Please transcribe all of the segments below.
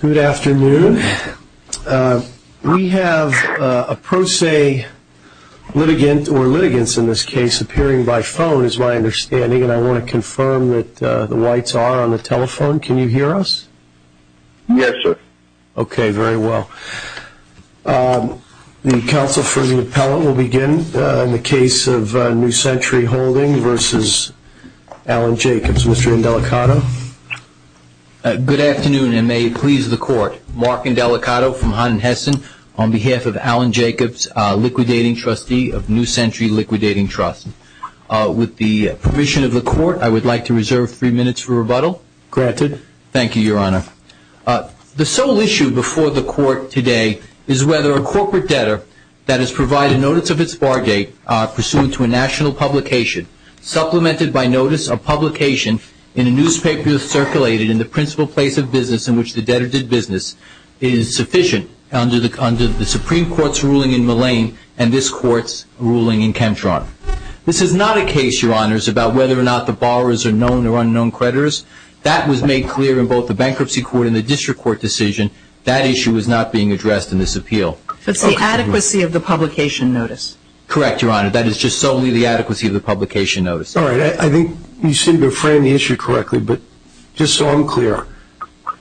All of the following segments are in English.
Good afternoon. We have a pro se litigant, or litigants in this case, appearing by phone is my understanding, and I want to confirm that the whites are on the telephone. Can you hear us? Yes, sir. Okay, very well. The counsel for the appellate will begin in the case of New Century Holding versus Alan Jacobs. Mr. Indelicato? Good afternoon, and may it please the Court. Mark Indelicato from Hunt & Hessen on behalf of Alan Jacobs, liquidating trustee of New Century Liquidating Trust. With the permission of the Court, I would like to reserve three minutes for rebuttal. Granted. Thank you, Your Honor. The sole issue before the Court today is whether a corporate debtor that has provided notice of its bargate pursuant to a national publication, supplemented by notice of publication in a newspaper circulated in the principal place of business in which the debtor did business, is sufficient under the Supreme Court's ruling in Mullane and this Court's ruling in Chemtron. This is not a case, Your Honors, about whether or not the borrowers are known or unknown creditors. That was made clear in both the Bankruptcy Court and the District Court decision. That issue is not being addressed in this appeal. It's the adequacy of the publication notice. Correct, Your Honor. That is just solely the adequacy of the publication notice. All right. I think you seem to have framed the issue correctly, but just so I'm clear,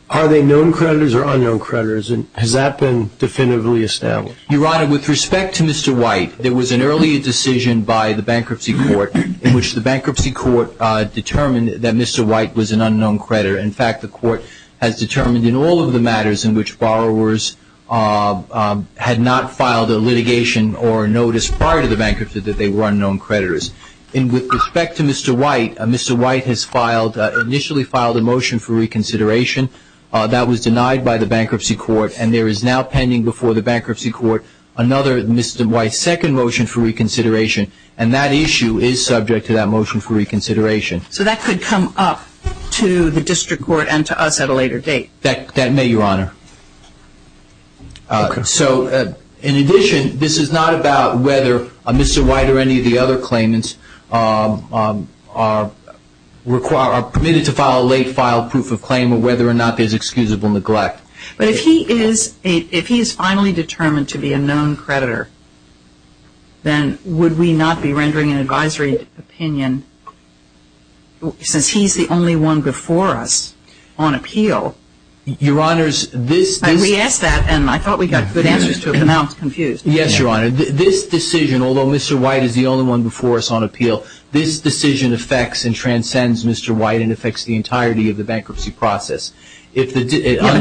are they known creditors or unknown creditors, and has that been definitively established? Your Honor, with respect to Mr. White, there was an earlier decision by the Bankruptcy Court in which the Bankruptcy Court determined that Mr. White was an unknown creditor. In fact, the Court has determined in all of the matters in which borrowers had not filed a litigation or a notice prior to the bankruptcy that they were unknown creditors. With respect to Mr. White, Mr. White has initially filed a motion for reconsideration. That was denied by the Bankruptcy Court, and there is now pending before the Bankruptcy Court another Mr. White's second motion for reconsideration, and that issue is subject to that motion for reconsideration. So that could come up to the District Court and to us at a later date? That may, Your Honor. Okay. So in addition, this is not about whether Mr. White or any of the other claimants are permitted to file a late-file proof of claim or whether or not there's excusable neglect. But if he is finally determined to be a known creditor, then would we not be rendering an advisory opinion since he's the only one before us on appeal? Your Honor, this — I re-asked that, and I thought we got good answers to it, but now I'm confused. Yes, Your Honor. This decision, although Mr. White is the only one before us on appeal, this decision affects and transcends Mr. White and affects the entirety of the bankruptcy process. Yeah, but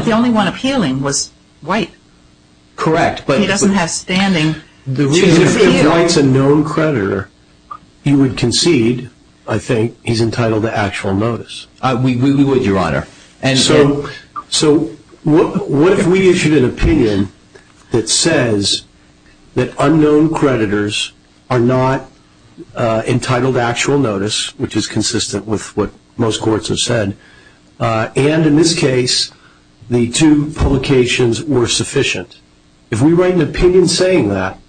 the only one appealing was White. Correct, but — He doesn't have standing. If White's a known creditor, he would concede, I think, he's entitled to actual notice. We would, Your Honor. So what if we issued an opinion that says that unknown creditors are not entitled to actual notice, which is consistent with what most courts have said, and in this case, the two publications were sufficient? If we write an opinion saying that,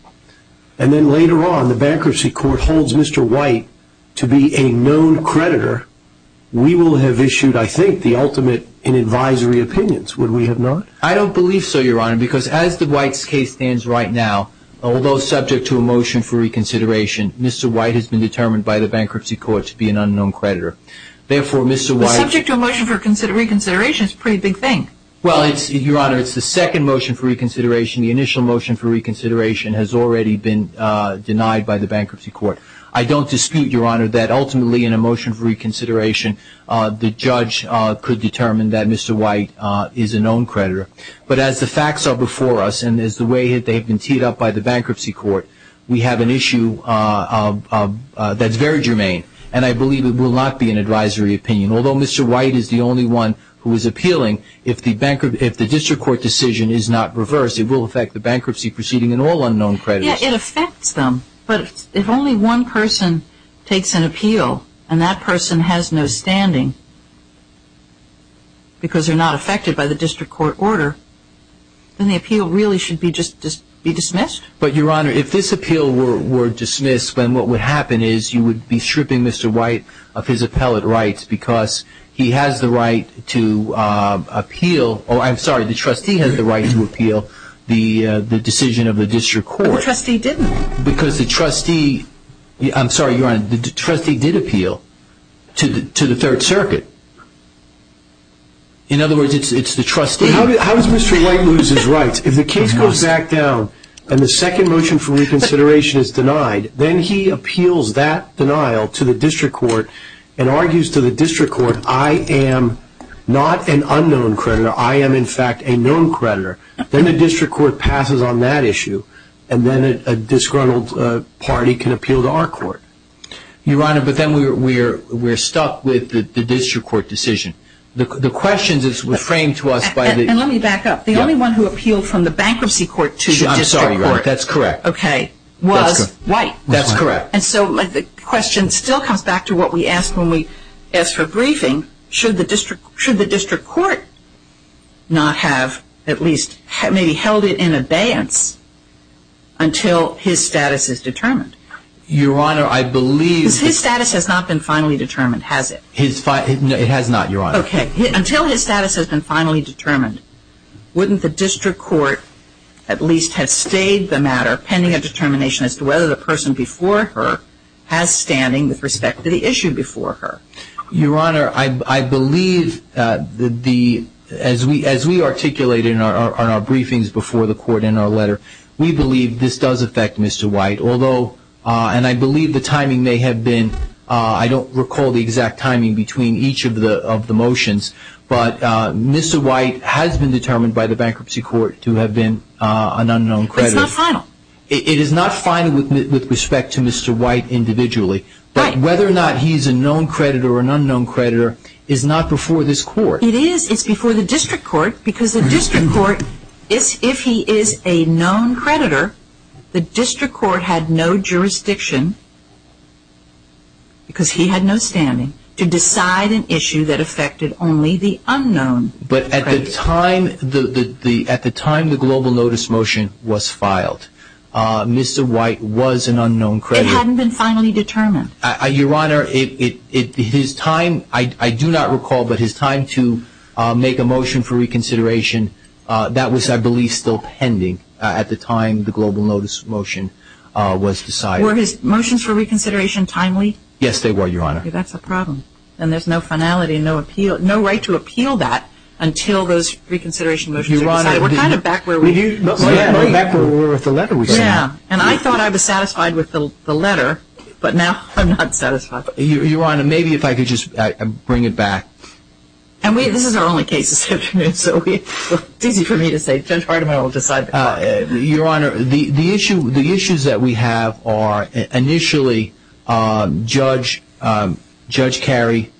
and then later on the bankruptcy court holds Mr. White to be a known creditor, we will have issued, I think, the ultimate in advisory opinions, would we have not? I don't believe so, Your Honor, because as the White's case stands right now, although subject to a motion for reconsideration, Mr. White has been determined by the bankruptcy court to be an unknown creditor. Therefore, Mr. White — But subject to a motion for reconsideration is a pretty big thing. Well, Your Honor, it's the second motion for reconsideration. The initial motion for reconsideration has already been denied by the bankruptcy court. I don't dispute, Your Honor, that ultimately in a motion for reconsideration, the judge could determine that Mr. White is a known creditor. But as the facts are before us, and as the way they have been teed up by the bankruptcy court, we have an issue that's very germane, and I believe it will not be an advisory opinion. Although Mr. White is the only one who is appealing, if the district court decision is not reversed, it will affect the bankruptcy proceeding and all unknown creditors. Yes, it affects them. But if only one person takes an appeal, and that person has no standing because they're not affected by the district court order, then the appeal really should be dismissed. But, Your Honor, if this appeal were dismissed, then what would happen is you would be stripping Mr. White of his appellate rights because he has the right to appeal — oh, I'm sorry, the trustee has the right to appeal the decision of the district court. But the trustee didn't. Because the trustee — I'm sorry, Your Honor, the trustee did appeal to the Third Circuit. In other words, it's the trustee — If the second motion for reconsideration is denied, then he appeals that denial to the district court and argues to the district court, I am not an unknown creditor, I am, in fact, a known creditor. Then the district court passes on that issue, and then a disgruntled party can appeal to our court. Your Honor, but then we're stuck with the district court decision. The question is framed to us by the — And let me back up. The only one who appealed from the bankruptcy court to the district court — I'm sorry, Your Honor, that's correct. — was White. That's correct. And so the question still comes back to what we asked when we asked for a briefing. Should the district court not have at least maybe held it in abeyance until his status is determined? Your Honor, I believe — Because his status has not been finally determined, has it? It has not, Your Honor. Okay. Until his status has been finally determined, wouldn't the district court at least have stayed the matter pending a determination as to whether the person before her has standing with respect to the issue before her? Your Honor, I believe that the — as we articulate in our briefings before the court in our letter, we believe this does affect Mr. White, although — and I believe the timing may have been — I don't recall the exact timing between each of the motions, but Mr. White has been determined by the bankruptcy court to have been an unknown creditor. But it's not final. It is not final with respect to Mr. White individually. Right. But whether or not he's a known creditor or an unknown creditor is not before this court. It is. It's before the district court because the district court — if he is a known creditor, the district court had no jurisdiction, because he had no standing, to decide an issue that affected only the unknown creditor. But at the time — at the time the global notice motion was filed, Mr. White was an unknown creditor. It hadn't been finally determined. Your Honor, his time — I do not recall, but his time to make a motion for reconsideration, that was, I believe, still pending at the time the global notice motion was decided. Were his motions for reconsideration timely? Yes, they were, Your Honor. That's a problem. And there's no finality, no appeal — no right to appeal that until those reconsideration motions are decided. Your Honor — We're kind of back where we — We're back where we were with the letter we sent. Yeah. And I thought I was satisfied with the letter, but now I'm not satisfied. Your Honor, maybe if I could just bring it back. And we — this is our only case this afternoon, so it's easy for me to say, Judge Hardiman will decide the court. Your Honor, the issue — the issues that we have are, initially, Judge — Judge Carey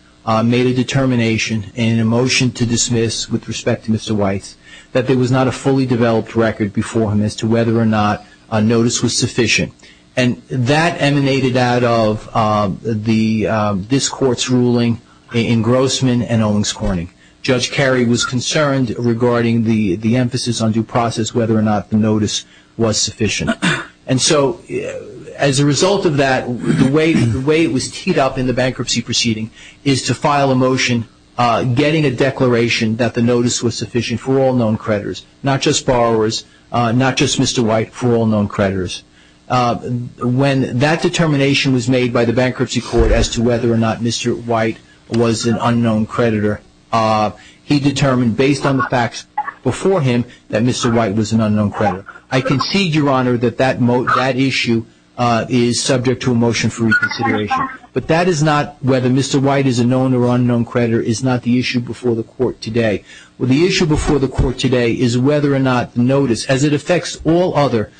made a determination in a motion to dismiss, with respect to Mr. White, that there was not a fully developed record before him as to whether or not a notice was sufficient. And that emanated out of the — this Court's ruling in Grossman and Owings Corning. Judge Carey was concerned regarding the emphasis on due process, whether or not the notice was sufficient. And so, as a result of that, the way it was teed up in the bankruptcy proceeding is to file a motion getting a declaration that the notice was sufficient for all known creditors, not just borrowers, not just Mr. White, for all known creditors. When that determination was made by the Bankruptcy Court as to whether or not Mr. White was an unknown creditor, he determined, based on the facts before him, that Mr. White was an unknown creditor. I concede, Your Honor, that that issue is subject to a motion for reconsideration. But that is not — whether Mr. White is a known or unknown creditor is not the issue before the Court today. The issue before the Court today is whether or not the notice, as it affects all other,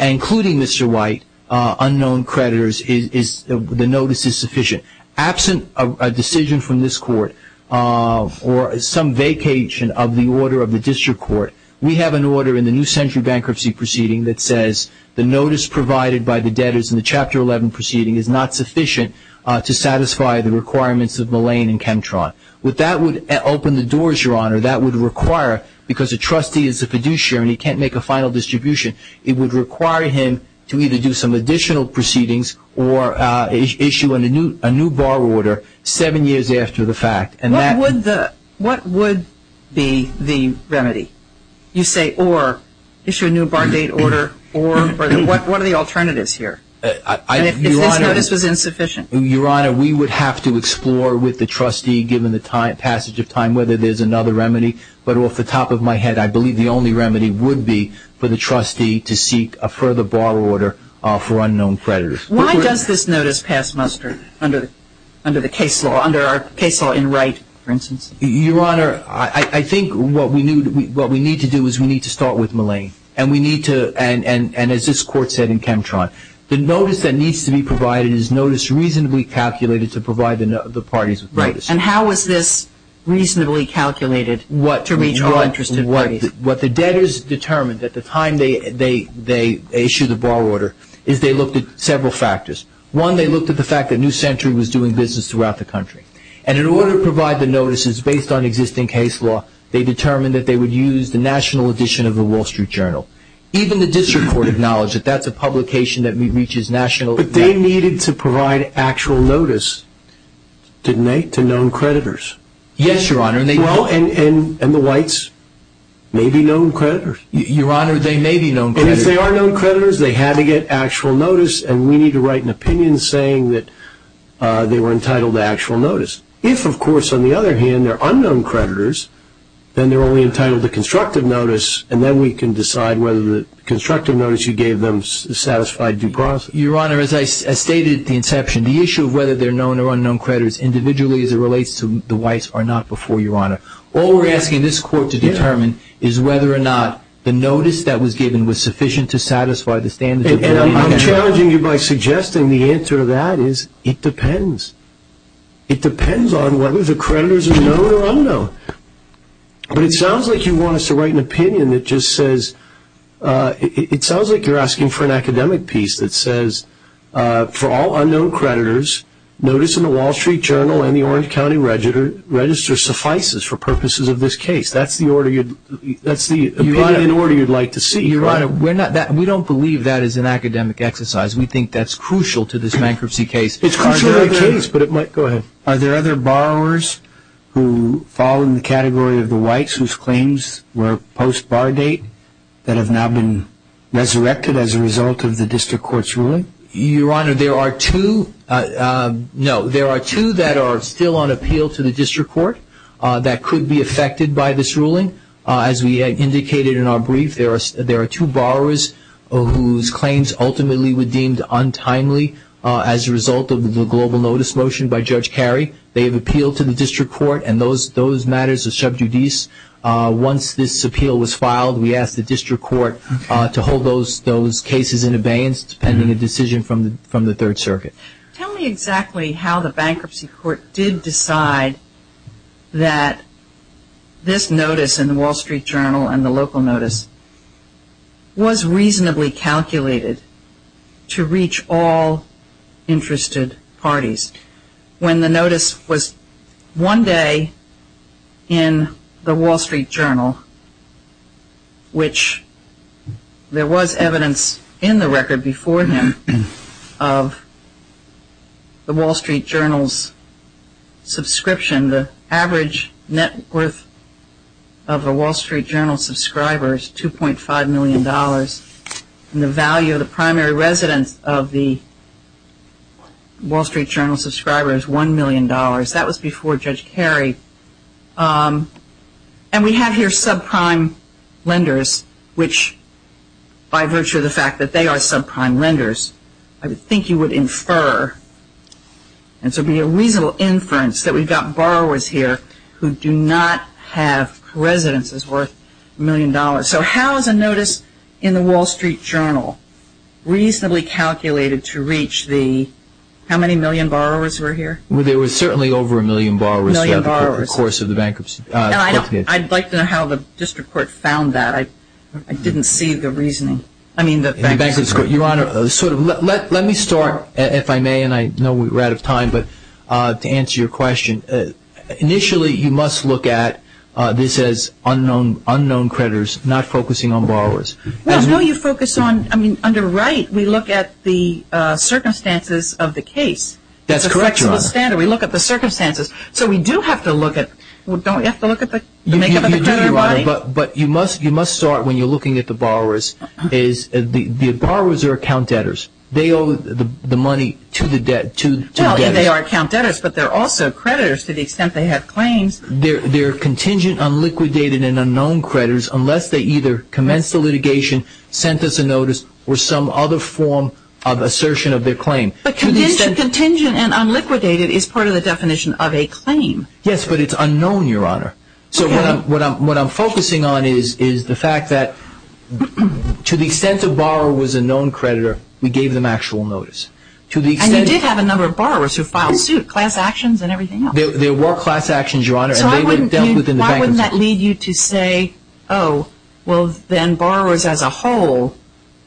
including Mr. White, unknown creditors, is — the notice is sufficient. Absent a decision from this Court or some vacation of the order of the District Court, we have an order in the New Century Bankruptcy Proceeding that says the notice provided by the debtors in the Chapter 11 proceeding is not sufficient to satisfy the requirements of Mullane and Chemtron. That would open the doors, Your Honor. That would require — because a trustee is a fiduciary and he can't make a final distribution, it would require him to either do some additional proceedings or issue a new bar order seven years after the fact. What would be the remedy? You say, or issue a new bar date order, or — what are the alternatives here? If this notice was insufficient? Your Honor, we would have to explore with the trustee, given the passage of time, whether there's another remedy. But off the top of my head, I believe the only remedy would be for the trustee to seek a further bar order for unknown creditors. Why does this notice pass muster under the case law, under our case law in Wright, for instance? Your Honor, I think what we need to do is we need to start with Mullane. And we need to — and as this Court said in Chemtron, the notice that needs to be provided is notice reasonably calculated to provide the parties with notice. Right. And how is this reasonably calculated to reach all interested parties? What the debtors determined at the time they issued the bar order is they looked at several factors. One, they looked at the fact that New Century was doing business throughout the country. And in order to provide the notices based on existing case law, they determined that they would use the national edition of the Wall Street Journal. Even the district court acknowledged that that's a publication that reaches nationally. But they needed to provide actual notice, didn't they, to known creditors? Yes, Your Honor. Well, and the Whites may be known creditors. Your Honor, they may be known creditors. And if they are known creditors, they had to get actual notice. And we need to write an opinion saying that they were entitled to actual notice. If, of course, on the other hand, they're unknown creditors, then they're only entitled to constructive notice, and then we can decide whether the constructive notice you gave them satisfied due process. Your Honor, as I stated at the inception, the issue of whether they're known or unknown creditors individually as it relates to the Whites are not before you, Your Honor. All we're asking this court to determine is whether or not the notice that was given was sufficient to satisfy the standards of Canadian law. And I'm challenging you by suggesting the answer to that is it depends. It depends on whether the creditors are known or unknown. But it sounds like you want us to write an opinion that just says, it sounds like you're asking for an academic piece that says, for all unknown creditors, notice in the Wall Street Journal and the Orange County Register suffices for purposes of this case. That's the opinion and order you'd like to see. Your Honor, we don't believe that is an academic exercise. We think that's crucial to this bankruptcy case. It's crucial to the case, but it might – go ahead. Are there other borrowers who fall in the category of the Whites whose claims were post-bar date that have now been resurrected as a result of the district court's ruling? Your Honor, there are two – no. There are two that are still on appeal to the district court that could be affected by this ruling. As we indicated in our brief, there are two borrowers whose claims ultimately were deemed untimely as a result of the global notice motion by Judge Carey. They have appealed to the district court, and those matters are sub judice. Once this appeal was filed, we asked the district court to hold those cases in abeyance, pending a decision from the Third Circuit. Tell me exactly how the bankruptcy court did decide that this notice in the Wall Street Journal and the local notice was reasonably calculated to reach all interested parties, when the notice was one day in the Wall Street Journal, which there was evidence in the record before him of the Wall Street Journal's subscription. The average net worth of a Wall Street Journal subscriber is $2.5 million, and the value of the primary residence of the Wall Street Journal subscriber is $1 million. That was before Judge Carey. And we have here subprime lenders, which by virtue of the fact that they are subprime lenders, I would think you would infer, and so it would be a reasonable inference, that we've got borrowers here who do not have residences worth a million dollars. So how is a notice in the Wall Street Journal reasonably calculated to reach the, how many million borrowers were here? Well, there were certainly over a million borrowers throughout the course of the bankruptcy. I'd like to know how the district court found that. I didn't see the reasoning. Your Honor, let me start, if I may, and I know we're out of time, but to answer your question. Initially, you must look at this as unknown creditors, not focusing on borrowers. Well, no, you focus on, I mean, under right, we look at the circumstances of the case. That's correct, Your Honor. We look at the circumstances. So we do have to look at, don't we have to look at the makeup of the creditor body? But you must start when you're looking at the borrowers. The borrowers are account debtors. They owe the money to the debtors. They are account debtors, but they're also creditors to the extent they have claims. They're contingent, unliquidated, and unknown creditors unless they either commenced the litigation, sent us a notice, or some other form of assertion of their claim. But contingent and unliquidated is part of the definition of a claim. Yes, but it's unknown, Your Honor. So what I'm focusing on is the fact that to the extent a borrower was a known creditor, we gave them actual notice. And you did have a number of borrowers who filed suit, class actions and everything else. There were class actions, Your Honor. So why wouldn't that lead you to say, oh, well, then borrowers as a whole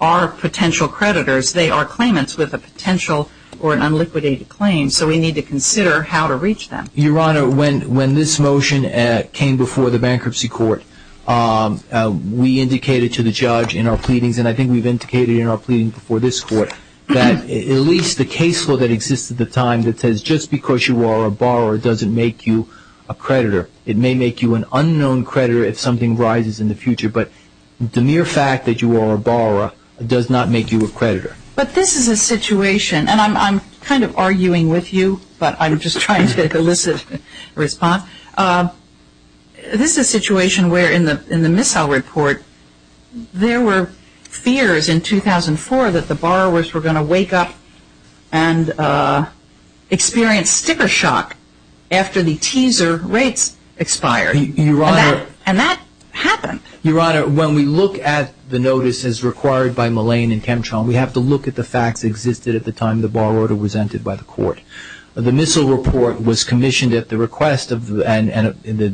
are potential creditors. They are claimants with a potential or an unliquidated claim, so we need to consider how to reach them. Your Honor, when this motion came before the bankruptcy court, we indicated to the judge in our pleadings, and I think we've indicated in our pleadings before this court, that at least the case law that exists at the time that says just because you are a borrower doesn't make you a creditor. It may make you an unknown creditor if something rises in the future, but the mere fact that you are a borrower does not make you a creditor. But this is a situation, and I'm kind of arguing with you, but I'm just trying to elicit a response. This is a situation where in the Missile Report, there were fears in 2004 that the borrowers were going to wake up and experience sticker shock after the teaser rates expired. Your Honor. And that happened. Your Honor, when we look at the notices required by Mullane and Chemtrail, we have to look at the facts that existed at the time the borrower was entered by the court. The Missile Report was commissioned at the request, and the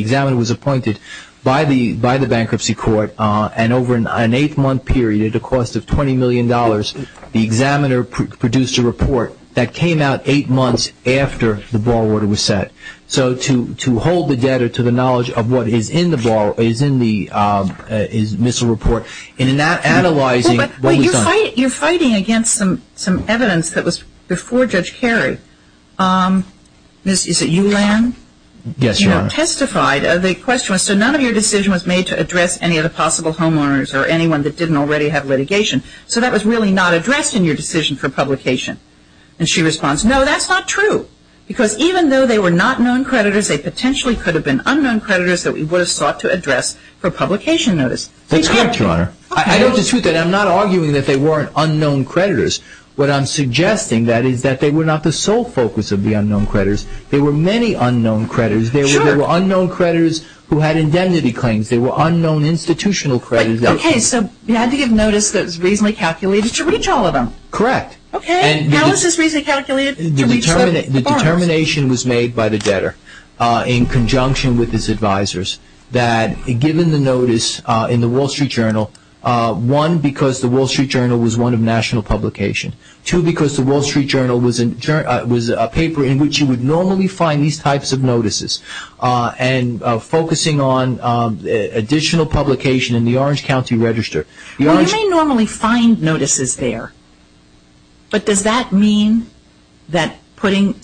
examiner was appointed by the bankruptcy court, and over an eight-month period at a cost of $20 million, the examiner produced a report that came out eight months after the borrower was set. So to hold the debtor to the knowledge of what is in the Missile Report, and in that analyzing, what was done? You're fighting against some evidence that was before Judge Carey. Is it you, Lan? Yes, Your Honor. You have testified. The question was, so none of your decision was made to address any of the possible homeowners or anyone that didn't already have litigation, so that was really not addressed in your decision for publication. And she responds, no, that's not true. Because even though they were not known creditors, they potentially could have been unknown creditors that we would have sought to address for publication notice. That's correct, Your Honor. I don't dispute that. I'm not arguing that they weren't unknown creditors. What I'm suggesting, that is, that they were not the sole focus of the unknown creditors. There were many unknown creditors. Sure. There were unknown creditors who had indemnity claims. There were unknown institutional creditors. Okay, so you had to give notice that was reasonably calculated to reach all of them. Correct. Okay, and how was this reasonably calculated to reach them? The determination was made by the debtor, in conjunction with his advisors, that given the notice in the Wall Street Journal, one, because the Wall Street Journal was one of national publication, two, because the Wall Street Journal was a paper in which you would normally find these types of notices, and focusing on additional publication in the Orange County Register. You may normally find notices there, but does that mean that putting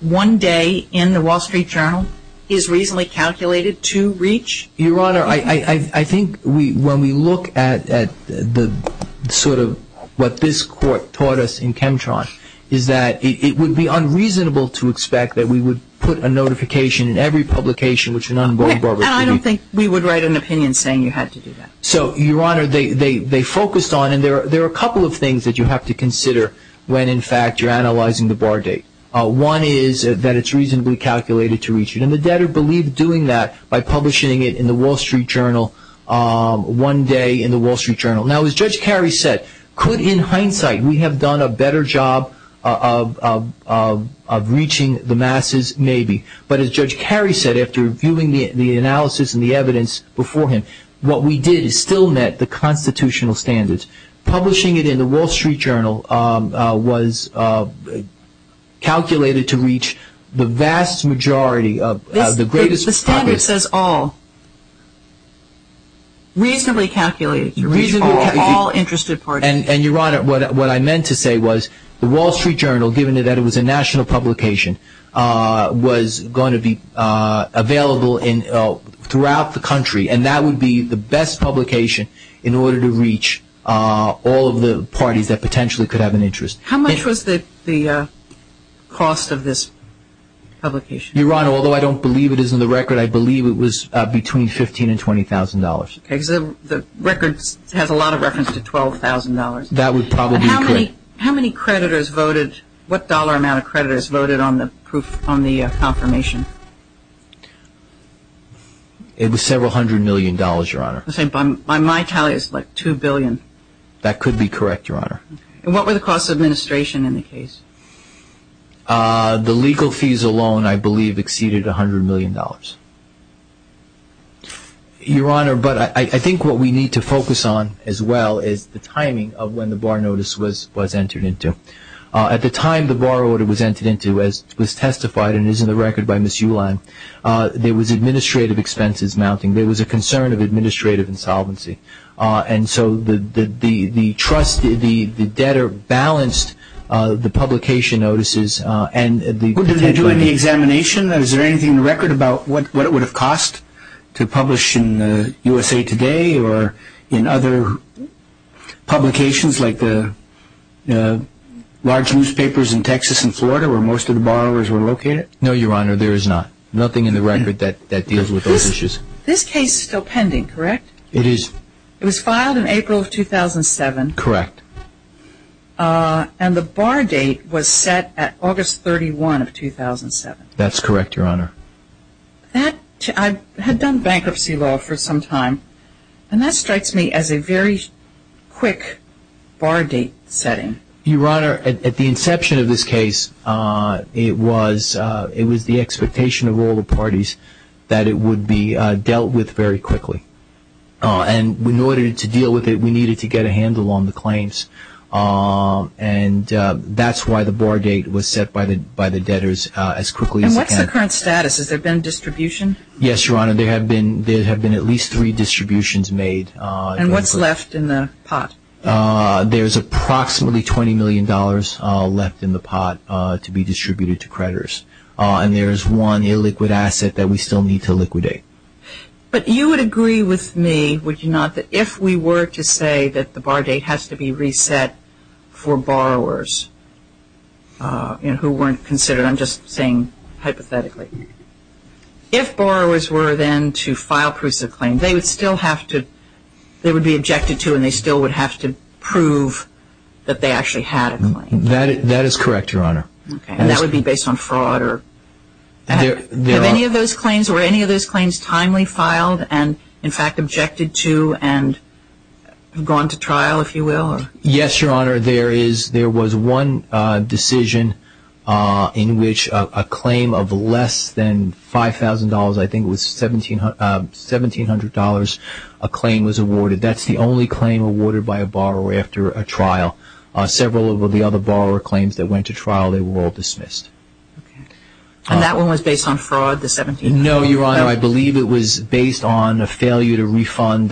one day in the Wall Street Journal is reasonably calculated to reach? Your Honor, I think when we look at the sort of what this Court taught us in Chemtron, is that it would be unreasonable to expect that we would put a notification in every publication, which is an unvoiced bargaining. I don't think we would write an opinion saying you had to do that. So, Your Honor, they focused on, and there are a couple of things that you have to consider when, in fact, you're analyzing the bar date. One is that it's reasonably calculated to reach. And the debtor believed doing that by publishing it in the Wall Street Journal, one day in the Wall Street Journal. Now, as Judge Carey said, could, in hindsight, we have done a better job of reaching the masses? Maybe. But as Judge Carey said, after reviewing the analysis and the evidence before him, what we did is still met the constitutional standards. Publishing it in the Wall Street Journal was calculated to reach the vast majority of the greatest public. The standard says all. Reasonably calculated to reach all interested parties. And, Your Honor, what I meant to say was the Wall Street Journal, given that it was a national publication, was going to be available throughout the country, and that would be the best publication in order to reach all of the parties that potentially could have an interest. How much was the cost of this publication? Your Honor, although I don't believe it is in the record, I believe it was between $15,000 and $20,000. The record has a lot of reference to $12,000. That would probably be correct. How many creditors voted, what dollar amount of creditors voted on the confirmation? It was several hundred million dollars, Your Honor. By my tally, it's like $2 billion. That could be correct, Your Honor. And what were the costs of administration in the case? The legal fees alone, I believe, exceeded $100 million. Your Honor, but I think what we need to focus on as well is the timing of when the bar notice was entered into. At the time the bar order was entered into, as was testified and is in the record by Ms. Ulam, there was administrative expenses mounting. There was a concern of administrative insolvency. And so the debtor balanced the publication notices. Did they do any examination? Is there anything in the record about what it would have cost to publish in USA Today or in other publications like the large newspapers in Texas and Florida where most of the borrowers were located? No, Your Honor, there is not. Nothing in the record that deals with those issues. This case is still pending, correct? It is. It was filed in April of 2007. Correct. And the bar date was set at August 31 of 2007. That's correct, Your Honor. I had done bankruptcy law for some time, and that strikes me as a very quick bar date setting. Your Honor, at the inception of this case, it was the expectation of all the parties that it would be dealt with very quickly. And in order to deal with it, we needed to get a handle on the claims, and that's why the bar date was set by the debtors as quickly as we can. And what's the current status? Has there been distribution? Yes, Your Honor, there have been at least three distributions made. And what's left in the pot? There's approximately $20 million left in the pot to be distributed to creditors, and there's one illiquid asset that we still need to liquidate. But you would agree with me, would you not, that if we were to say that the bar date has to be reset for borrowers who weren't considered, I'm just saying hypothetically, if borrowers were then to file proofs of claim, they would still have to – they would be objected to and they still would have to prove that they actually had a claim. That is correct, Your Honor. And that would be based on fraud or – and, in fact, objected to and gone to trial, if you will? Yes, Your Honor. There was one decision in which a claim of less than $5,000, I think it was $1,700, a claim was awarded. That's the only claim awarded by a borrower after a trial. Several of the other borrower claims that went to trial, they were all dismissed. No, Your Honor. I believe it was based on a failure to refund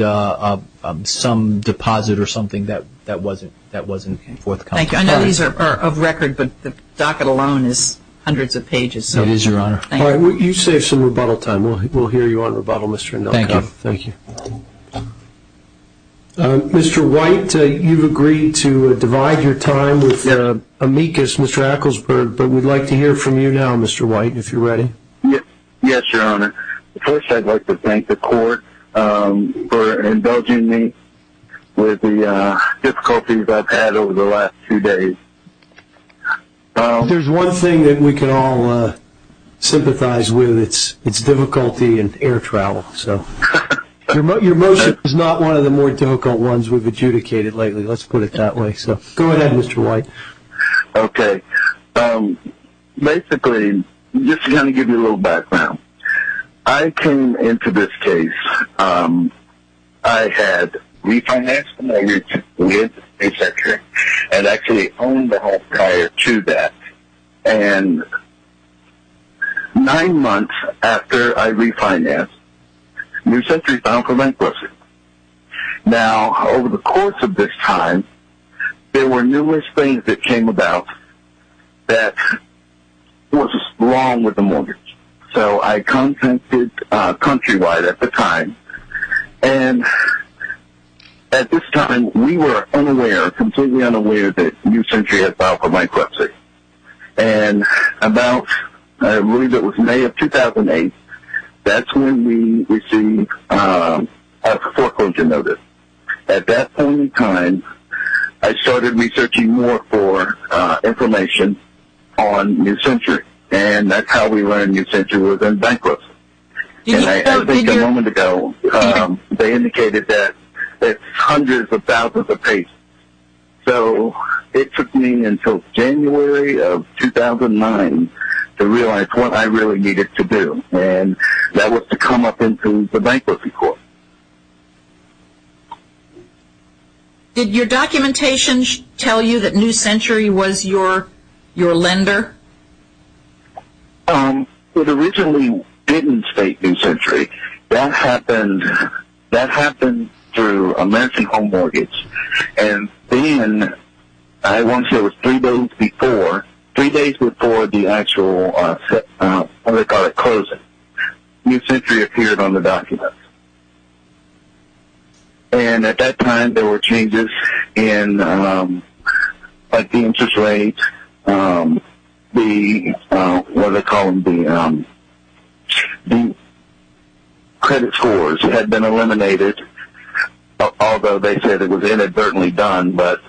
some deposit or something that wasn't forthcoming. Thank you. I know these are of record, but the docket alone is hundreds of pages. It is, Your Honor. Thank you. All right. You saved some rebuttal time. We'll hear you on rebuttal, Mr. Indelkoff. Thank you. Thank you. Mr. White, you've agreed to divide your time with amicus, Mr. Ecclesburg, but we'd like to hear from you now, Mr. White, if you're ready. Yes, Your Honor. First, I'd like to thank the court for indulging me with the difficulties I've had over the last two days. If there's one thing that we can all sympathize with, it's difficulty in air travel. Your motion is not one of the more difficult ones we've adjudicated lately, let's put it that way. Go ahead, Mr. White. Okay. Basically, I'm just going to give you a little background. I came into this case, I had refinanced the mortgage with a century and actually owned the home prior to that. And nine months after I refinanced, New Century filed for bankruptcy. Now, over the course of this time, there were numerous things that came about that was wrong with the mortgage. So I contacted Countrywide at the time. And at this time, we were unaware, completely unaware that New Century had filed for bankruptcy. And about, I believe it was May of 2008, that's when we received a foreclosure notice. At that point in time, I started researching more for information on New Century. And that's how we learned New Century was in bankruptcy. And I think a moment ago, they indicated that it's hundreds of thousands of paces. So it took me until January of 2009 to realize what I really needed to do, and that was to come up into the bankruptcy court. Did your documentation tell you that New Century was your lender? It originally didn't state New Century. That happened through a mentioned home mortgage. And then, I won't say it was three days before, three days before the actual, what do they call it, closing, New Century appeared on the document. And at that time, there were changes in, like, the interest rate, the, what do they call them, the credit scores had been eliminated, although they said it was inadvertently done. But,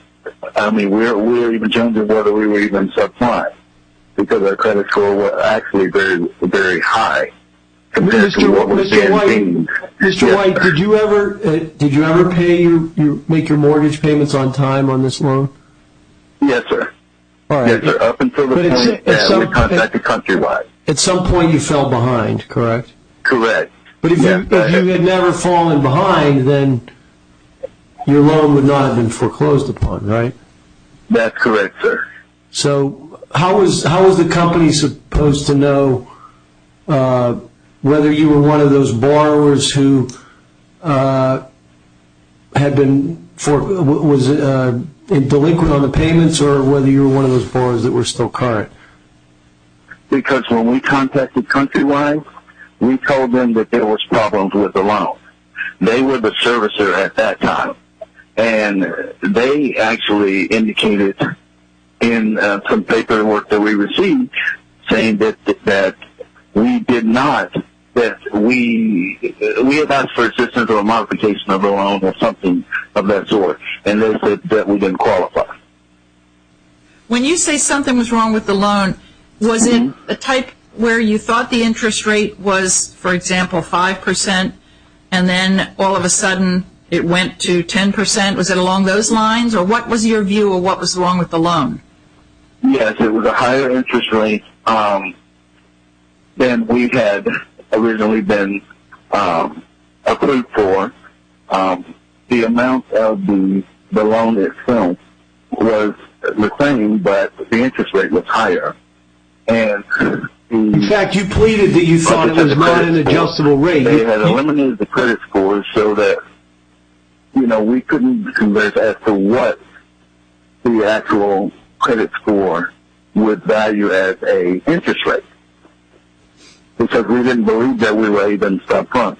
I mean, we were even surprised because our credit score was actually very, very high. Mr. White, did you ever pay your, make your mortgage payments on time on this loan? Yes, sir. All right. Yes, sir. Up until the point when we contacted Countrywide. At some point, you fell behind, correct? Correct. But if you had never fallen behind, then your loan would not have been foreclosed upon, right? That's correct, sir. So, how was the company supposed to know whether you were one of those borrowers who had been, was delinquent on the payments or whether you were one of those borrowers that were still current? Because when we contacted Countrywide, we told them that there was problems with the loan. They were the servicer at that time. And they actually indicated in some paperwork that we received saying that we did not, that we had asked for assistance or a modification of the loan or something of that sort, and that we didn't qualify. When you say something was wrong with the loan, was it a type where you thought the interest rate was, for example, 5%? And then all of a sudden it went to 10%. Was it along those lines? Or what was your view of what was wrong with the loan? Yes, it was a higher interest rate than we had originally been approved for. The amount of the loan itself was the same, but the interest rate was higher. In fact, you pleaded that you thought it was not an adjustable rate. They had eliminated the credit scores so that, you know, we couldn't converge as to what the actual credit score would value as an interest rate, because we didn't believe that we were even stuck on.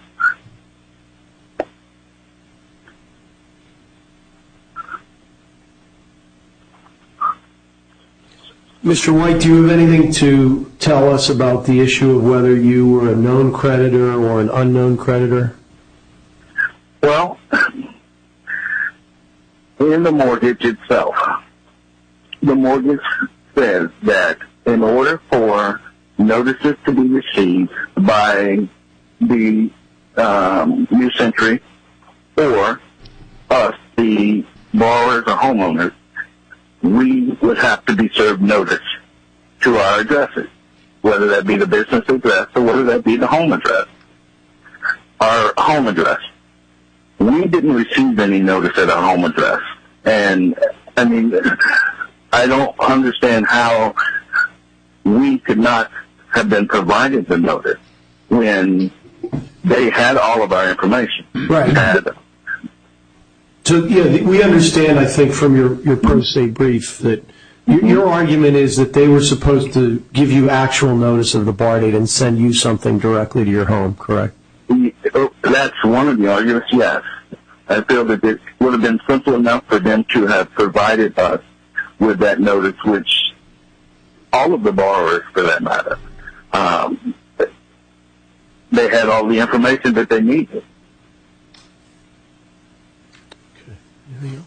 Mr. White, Mr. White, do you have anything to tell us about the issue of whether you were a known creditor or an unknown creditor? Well, in the mortgage itself, the mortgage says that in order for notices to be received by the new century or us, the borrowers or homeowners, we would have to be served notice to our addresses, whether that be the business address or whether that be the home address. Our home address. We didn't receive any notice at our home address, and I mean I don't understand how we could not have been provided the notice when they had all of our information. Right. So we understand, I think, from your post-date brief, that your argument is that they were supposed to give you actual notice of the borrow date and send you something directly to your home, correct? That's one of the arguments, yes. I feel that it would have been simple enough for them to have provided us with that notice, which all of the borrowers, for that matter, they had all the information that they needed. All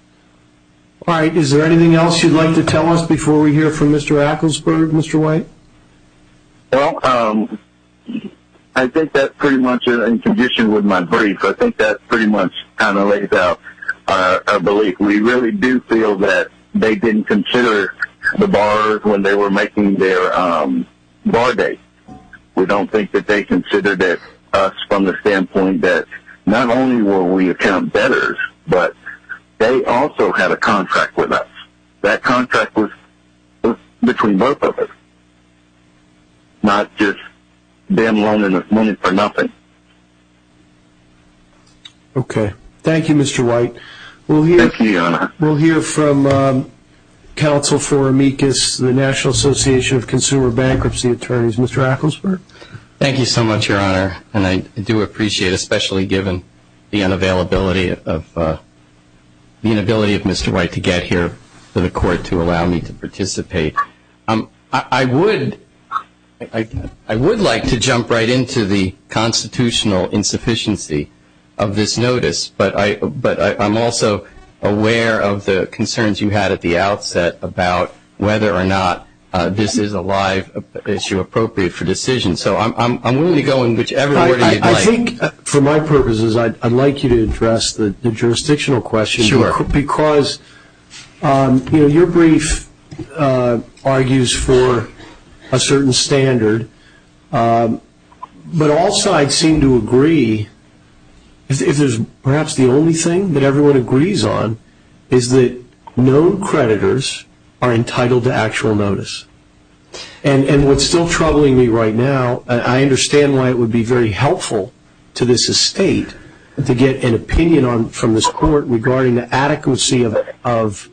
right. Is there anything else you'd like to tell us before we hear from Mr. Acklesberg, Mr. White? Well, I think that's pretty much in condition with my brief. I think that pretty much kind of lays out our belief. We really do feel that they didn't consider the borrowers when they were making their borrow date. We don't think that they considered us from the standpoint that not only will we account debtors, but they also had a contract with us. That contract was between both of us, not just them loaning us money for nothing. Okay. Thank you, Mr. White. Thank you, Your Honor. We'll hear from Counsel for Amicus, the National Association of Consumer Bankruptcy Attorneys. Mr. Acklesberg? Thank you so much, Your Honor, and I do appreciate, especially given the inability of Mr. White to get here to the court to allow me to participate. I would like to jump right into the constitutional insufficiency of this notice, but I'm also aware of the concerns you had at the outset about whether or not this is a live issue appropriate for decision. So I'm willing to go in whichever order you'd like. I think, for my purposes, I'd like you to address the jurisdictional question. Sure. Because your brief argues for a certain standard, but also I'd seem to agree, if there's perhaps the only thing that everyone agrees on, is that no creditors are entitled to actual notice. And what's still troubling me right now, I understand why it would be very helpful to this estate to get an opinion from this court regarding the adequacy of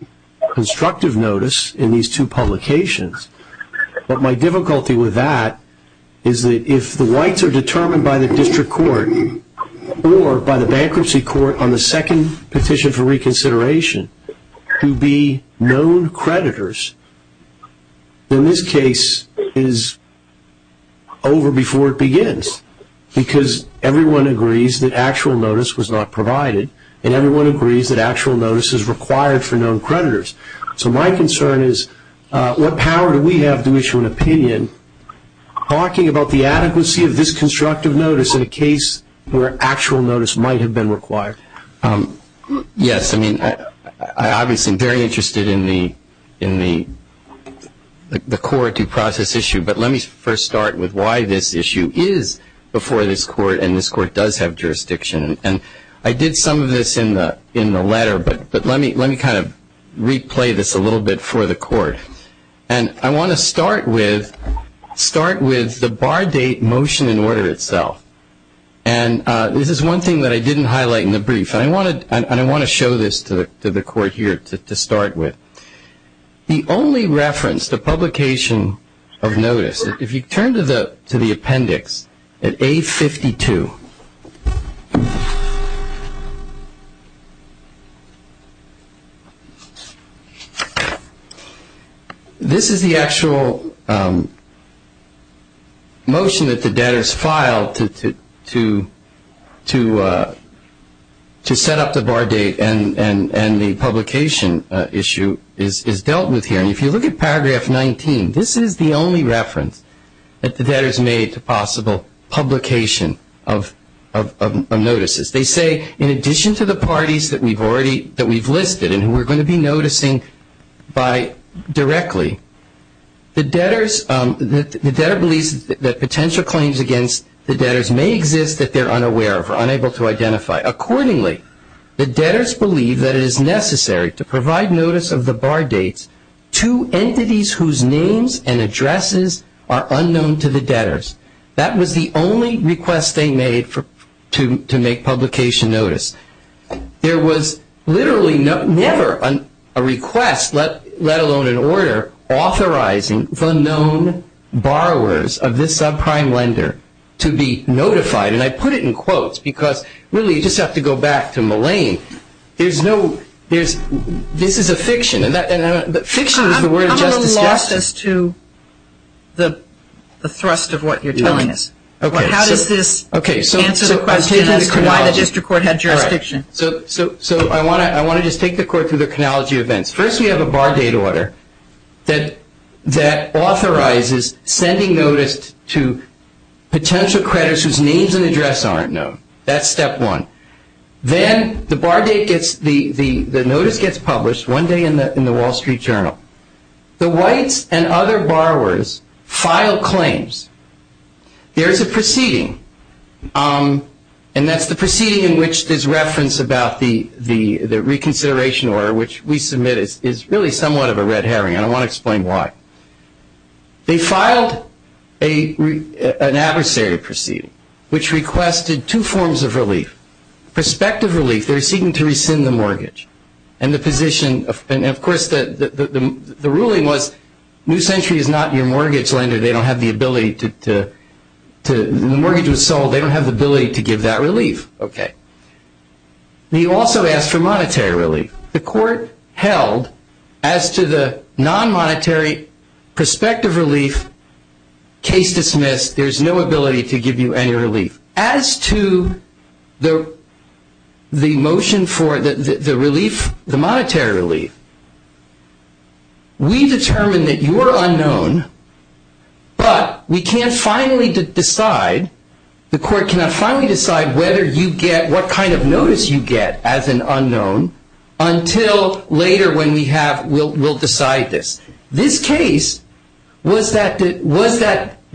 constructive notice in these two publications. But my difficulty with that is that if the whites are determined by the district court or by the bankruptcy court on the second petition for reconsideration to be known creditors, then this case is over before it begins, because everyone agrees that actual notice was not provided, and everyone agrees that actual notice is required for known creditors. So my concern is what power do we have to issue an opinion talking about the adequacy of this constructive notice in a case where actual notice might have been required? Yes. I mean, I'm obviously very interested in the core due process issue, but let me first start with why this issue is before this court, and this court does have jurisdiction. And I did some of this in the letter, but let me kind of replay this a little bit for the court. And I want to start with the bar date motion in order itself. And this is one thing that I didn't highlight in the brief, and I want to show this to the court here to start with. The only reference to publication of notice, if you turn to the appendix at A52, this is the actual motion that the debtors filed to set up the bar date, and the publication issue is dealt with here. And if you look at paragraph 19, this is the only reference that the debtors made to possible publication of notices. They say, in addition to the parties that we've listed and who we're going to be noticing directly, the debtor believes that potential claims against the debtors may exist that they're unaware of or unable to identify. Accordingly, the debtors believe that it is necessary to provide notice of the bar dates to entities whose names and addresses are unknown to the debtors. That was the only request they made to make publication notice. There was literally never a request, let alone an order, authorizing the known borrowers of this subprime lender to be notified. And I put it in quotes because, really, you just have to go back to Mullane. This is a fiction. Fiction is the word of justice. I'm a little lost as to the thrust of what you're telling us. How does this answer the question as to why the district court had jurisdiction? All right. So I want to just take the court through the chronology of events. First, we have a bar date order that authorizes sending notice to potential creditors whose names and addresses aren't known. That's step one. Then the notice gets published one day in the Wall Street Journal. The whites and other borrowers file claims. There is a proceeding, and that's the proceeding in which there's reference about the reconsideration order, which we submit is really somewhat of a red herring. I don't want to explain why. They filed an adversary proceeding, which requested two forms of relief. Prospective relief, they're seeking to rescind the mortgage. And, of course, the ruling was New Century is not your mortgage lender. The mortgage was sold. They don't have the ability to give that relief. Okay. They also asked for monetary relief. The court held as to the non-monetary prospective relief, case dismissed, there's no ability to give you any relief. As to the motion for the relief, the monetary relief, we determined that you are unknown, but we can't finally decide, the court cannot finally decide whether you get, what kind of notice you get as an unknown until later when we have, we'll decide this. This case was that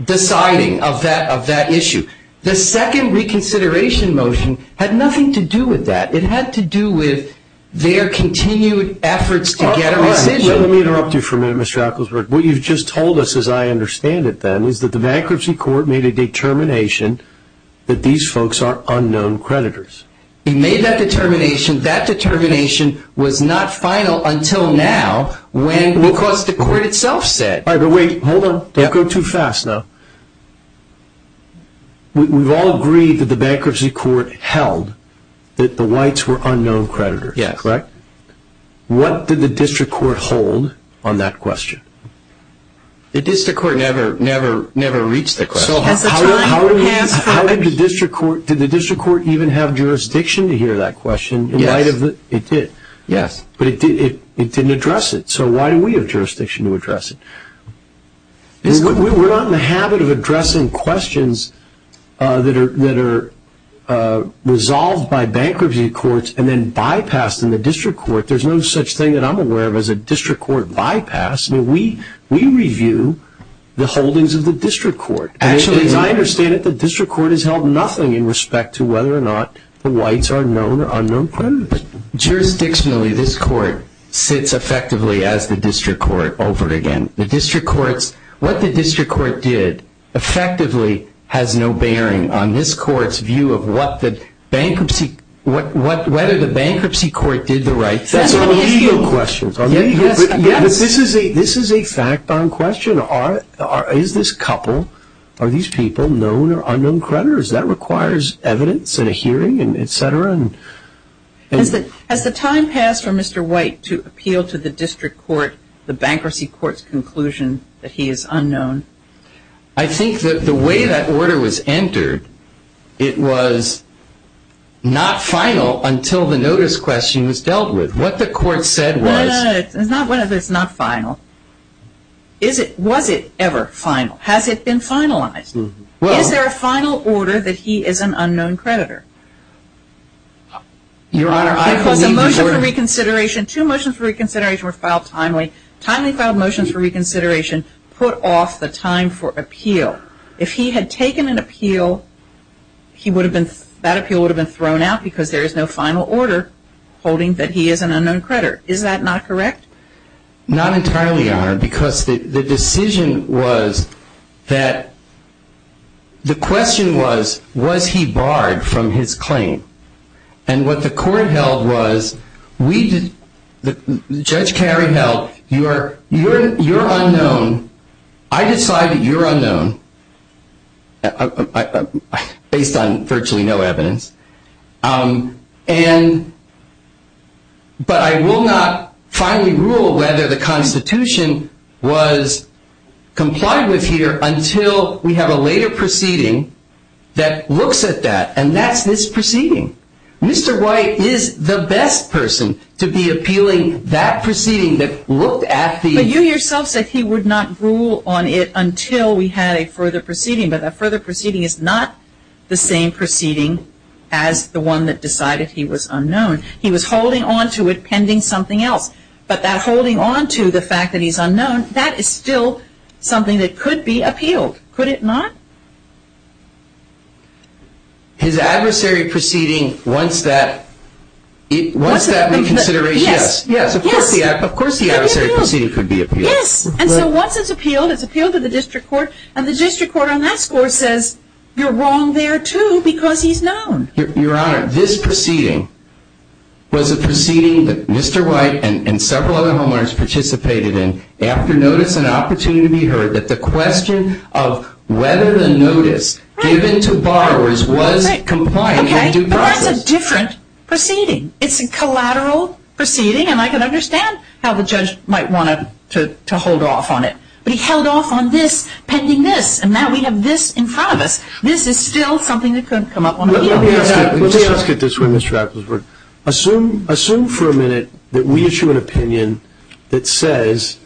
deciding of that issue. The second reconsideration motion had nothing to do with that. It had to do with their continued efforts to get a rescission. Let me interrupt you for a minute, Mr. Acklesberg. What you've just told us, as I understand it then, is that the bankruptcy court made a determination that these folks are unknown creditors. It made that determination. That determination was not final until now when, because the court itself said. Wait, hold on. Don't go too fast now. We've all agreed that the bankruptcy court held that the whites were unknown creditors, correct? Yes. What did the district court hold on that question? The district court never reached that question. How did the district court, did the district court even have jurisdiction to hear that question? Yes. It did. Yes. But it didn't address it. So why do we have jurisdiction to address it? We're not in the habit of addressing questions that are resolved by bankruptcy courts and then bypassed in the district court. There's no such thing that I'm aware of as a district court bypass. We review the holdings of the district court. Actually, as I understand it, the district court has held nothing in respect to whether or not the whites are known or unknown creditors. Jurisdictionally, this court sits effectively as the district court over again. The district court's, what the district court did effectively has no bearing on this court's view of what the bankruptcy, whether the bankruptcy court did the right thing. But that's a legal question. Yes. This is a fact on question. Is this couple, are these people known or unknown creditors? That requires evidence and a hearing and et cetera. Has the time passed for Mr. White to appeal to the district court, the bankruptcy court's conclusion that he is unknown? I think that the way that order was entered, it was not final until the notice question was dealt with. What the court said was... No, no, no. It's not final. Was it ever final? Has it been finalized? Is there a final order that he is an unknown creditor? Your Honor, I believe the order... Because the motion for reconsideration, two motions for reconsideration were filed timely. Timely filed motions for reconsideration put off the time for appeal. If he had taken an appeal, he would have been, that appeal would have been thrown out because there is no final order holding that he is an unknown creditor. Is that not correct? Not entirely, Your Honor, because the decision was that, the question was, was he barred from his claim? And what the court held was, Judge Carey held, you're unknown. I decide that you're unknown, based on virtually no evidence. But I will not finally rule whether the Constitution was complied with here until we have a later proceeding that looks at that. And that's this proceeding. Mr. White is the best person to be appealing that proceeding that looked at the... But you yourself said he would not rule on it until we had a further proceeding. But that further proceeding is not the same proceeding as the one that decided he was unknown. He was holding onto it pending something else. But that holding onto the fact that he's unknown, that is still something that could be appealed. Could it not? His adversary proceeding, once that... Once that reconsideration... Yes. Yes, of course the adversary proceeding could be appealed. Yes, and so once it's appealed, it's appealed to the district court, and the district court on that score says, you're wrong there too because he's known. Your Honor, this proceeding was a proceeding that Mr. White and several other homeowners participated in after notice and opportunity to be heard that the question of whether the notice given to borrowers was compliant in due process. Okay, but that's a different proceeding. It's a collateral proceeding, and I can understand how the judge might want to hold off on it. But he held off on this pending this, and now we have this in front of us. This is still something that could come up on appeal. Let me ask it this way, Ms. Shackelford. Assume for a minute that we issue an opinion that says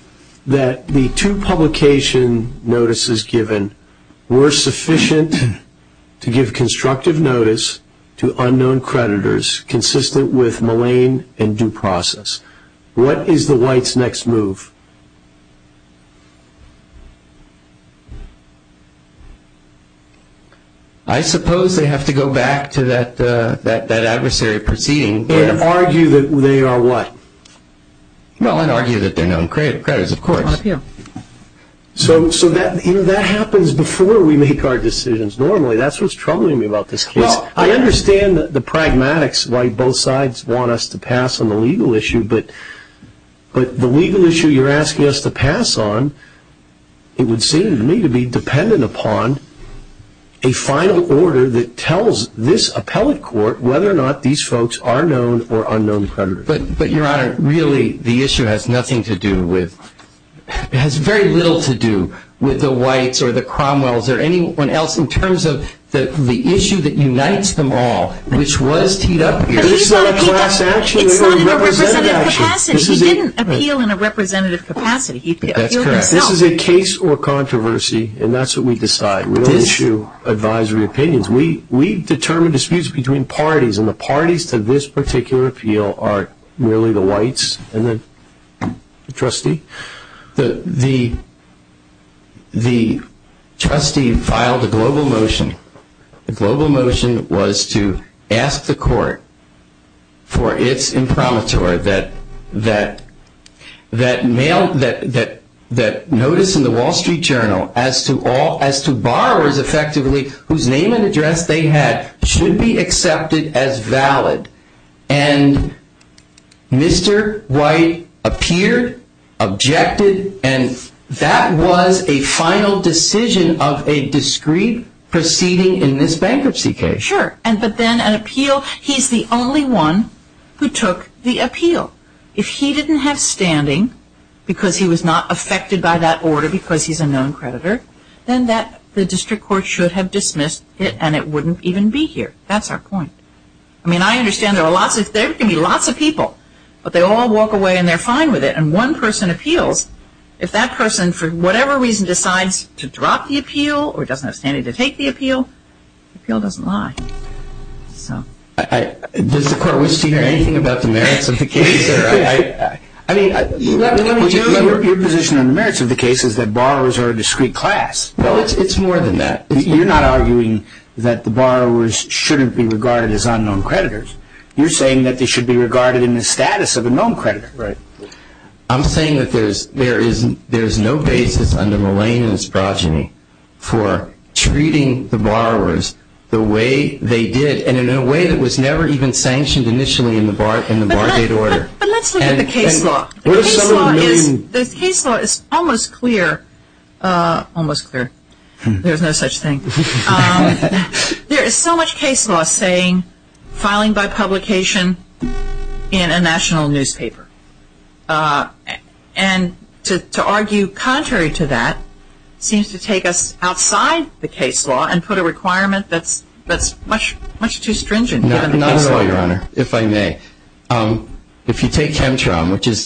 that the two publication notices given were sufficient to give constructive notice to unknown creditors consistent with malign and due process. What is the White's next move? I suppose they have to go back to that adversary proceeding. And argue that they are what? Well, and argue that they're known creditors, of course. So that happens before we make our decisions normally. That's what's troubling me about this case. I understand the pragmatics why both sides want us to pass on the legal issue, but the legal issue you're asking us to pass on, it would seem to me to be dependent upon a final order that tells this appellate court whether or not these folks are known or unknown creditors. But, Your Honor, really the issue has nothing to do with, has very little to do with the Whites or the Cromwells or anyone else in terms of the issue that unites them all, which was teed up here. It's not in a representative capacity. He didn't appeal in a representative capacity. He appealed himself. This is a case or controversy, and that's what we decide. We don't issue advisory opinions. We determine disputes between parties, and the parties to this particular appeal are merely the Whites and the trustee. The trustee filed a global motion. The global motion was to ask the court for its imprimatur that notice in the Wall Street Journal as to borrowers effectively whose name and address they had should be accepted as valid, and Mr. White appeared, objected, and that was a final decision of a discreet proceeding in this bankruptcy case. Sure, but then an appeal, he's the only one who took the appeal. If he didn't have standing because he was not affected by that order because he's a known creditor, then the district court should have dismissed it, and it wouldn't even be here. That's our point. I mean, I understand there can be lots of people, but they all walk away and they're fine with it, and one person appeals, if that person for whatever reason decides to drop the appeal or doesn't have standing to take the appeal, the appeal doesn't lie. Does the court wish to hear anything about the merits of the case? I mean, your position on the merits of the case is that borrowers are a discreet class. Well, it's more than that. You're not arguing that the borrowers shouldn't be regarded as unknown creditors. You're saying that they should be regarded in the status of a known creditor. Right. I'm saying that there is no basis under Molina's progeny for treating the borrowers the way they did and in a way that was never even sanctioned initially in the Bargate Order. But let's look at the case law. The case law is almost clear. Almost clear. There's no such thing. There is so much case law saying filing by publication in a national newspaper, and to argue contrary to that seems to take us outside the case law and put a requirement that's much too stringent given the case law. Not at all, Your Honor, if I may. If you take Chemtron, which is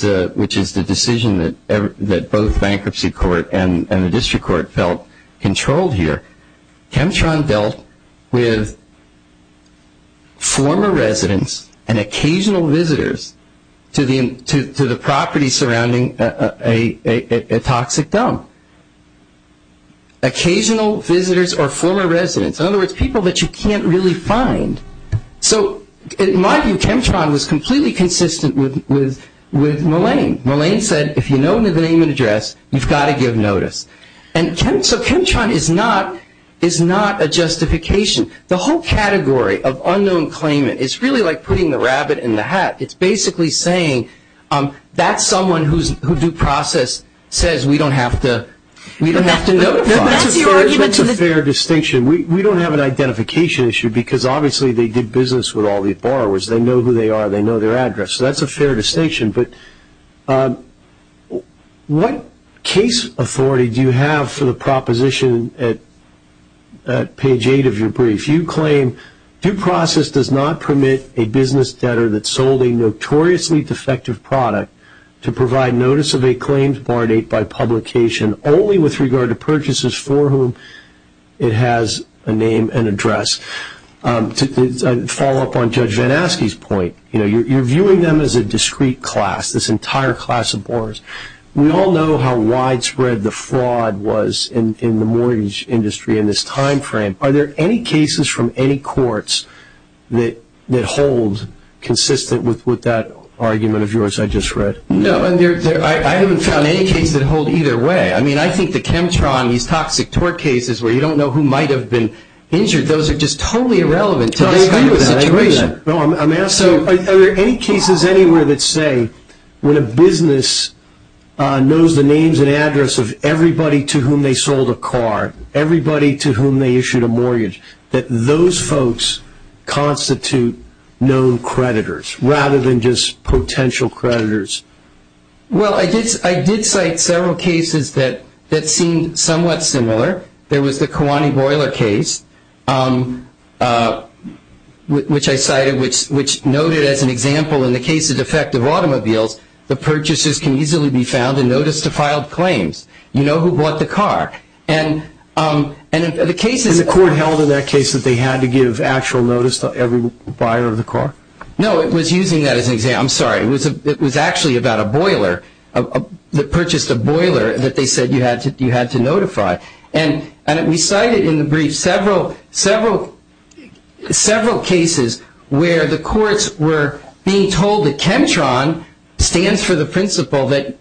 the decision that both bankruptcy court and the district court felt controlled here, Chemtron dealt with former residents and occasional visitors to the property surrounding a toxic dump. Occasional visitors or former residents. In other words, people that you can't really find. So in my view, Chemtron was completely consistent with Molina. Molina said if you know the name and address, you've got to give notice. So Chemtron is not a justification. The whole category of unknown claimant is really like putting the rabbit in the hat. It's basically saying that's someone who due process says we don't have to notify. That's a fair distinction. We don't have an identification issue because obviously they did business with all these borrowers. They know who they are. They know their address. So that's a fair distinction. But what case authority do you have for the proposition at page 8 of your brief? You claim due process does not permit a business debtor that sold a notoriously defective product to provide notice of a claimed bar date by publication only with regard to purchases for whom it has a name and address. To follow up on Judge Van Aske's point, you're viewing them as a discrete class, this entire class of borrowers. We all know how widespread the fraud was in the mortgage industry in this time frame. Are there any cases from any courts that hold consistent with that argument of yours I just read? No. I haven't found any cases that hold either way. I mean, I think the Chemtron, these toxic tort cases where you don't know who might have been injured, those are just totally irrelevant to this kind of situation. I agree with that. I'm asking are there any cases anywhere that say when a business knows the names and addresses of everybody to whom they sold a car, everybody to whom they issued a mortgage, that those folks constitute known creditors rather than just potential creditors? Well, I did cite several cases that seemed somewhat similar. There was the Kiwani Boiler case, which I cited, which noted as an example in the case of defective automobiles, the purchases can easily be found in notice to filed claims. You know who bought the car. And the case is a court held in that case that they had to give actual notice to every buyer of the car? No. It was using that as an example. I'm sorry. It was actually about a boiler that purchased a boiler that they said you had to notify. And we cited in the brief several cases where the courts were being told that Chemtron stands for the principle that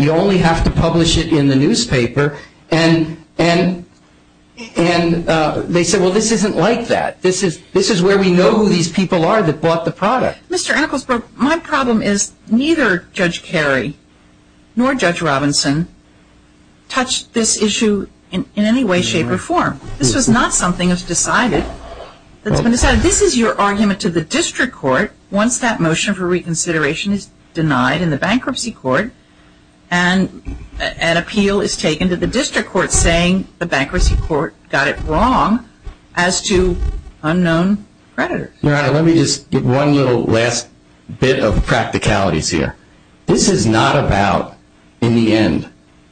you only have to publish it in the newspaper. And they said, well, this isn't like that. This is where we know who these people are that bought the product. Mr. Enkelsberg, my problem is neither Judge Kerry nor Judge Robinson touched this issue in any way, shape, or form. This was not something that was decided. This is your argument to the district court once that motion for reconsideration is denied in the bankruptcy court and an appeal is taken to the district court saying the bankruptcy court got it wrong as to unknown creditors. Your Honor, let me just give one little last bit of practicalities here. This is not about, in the end,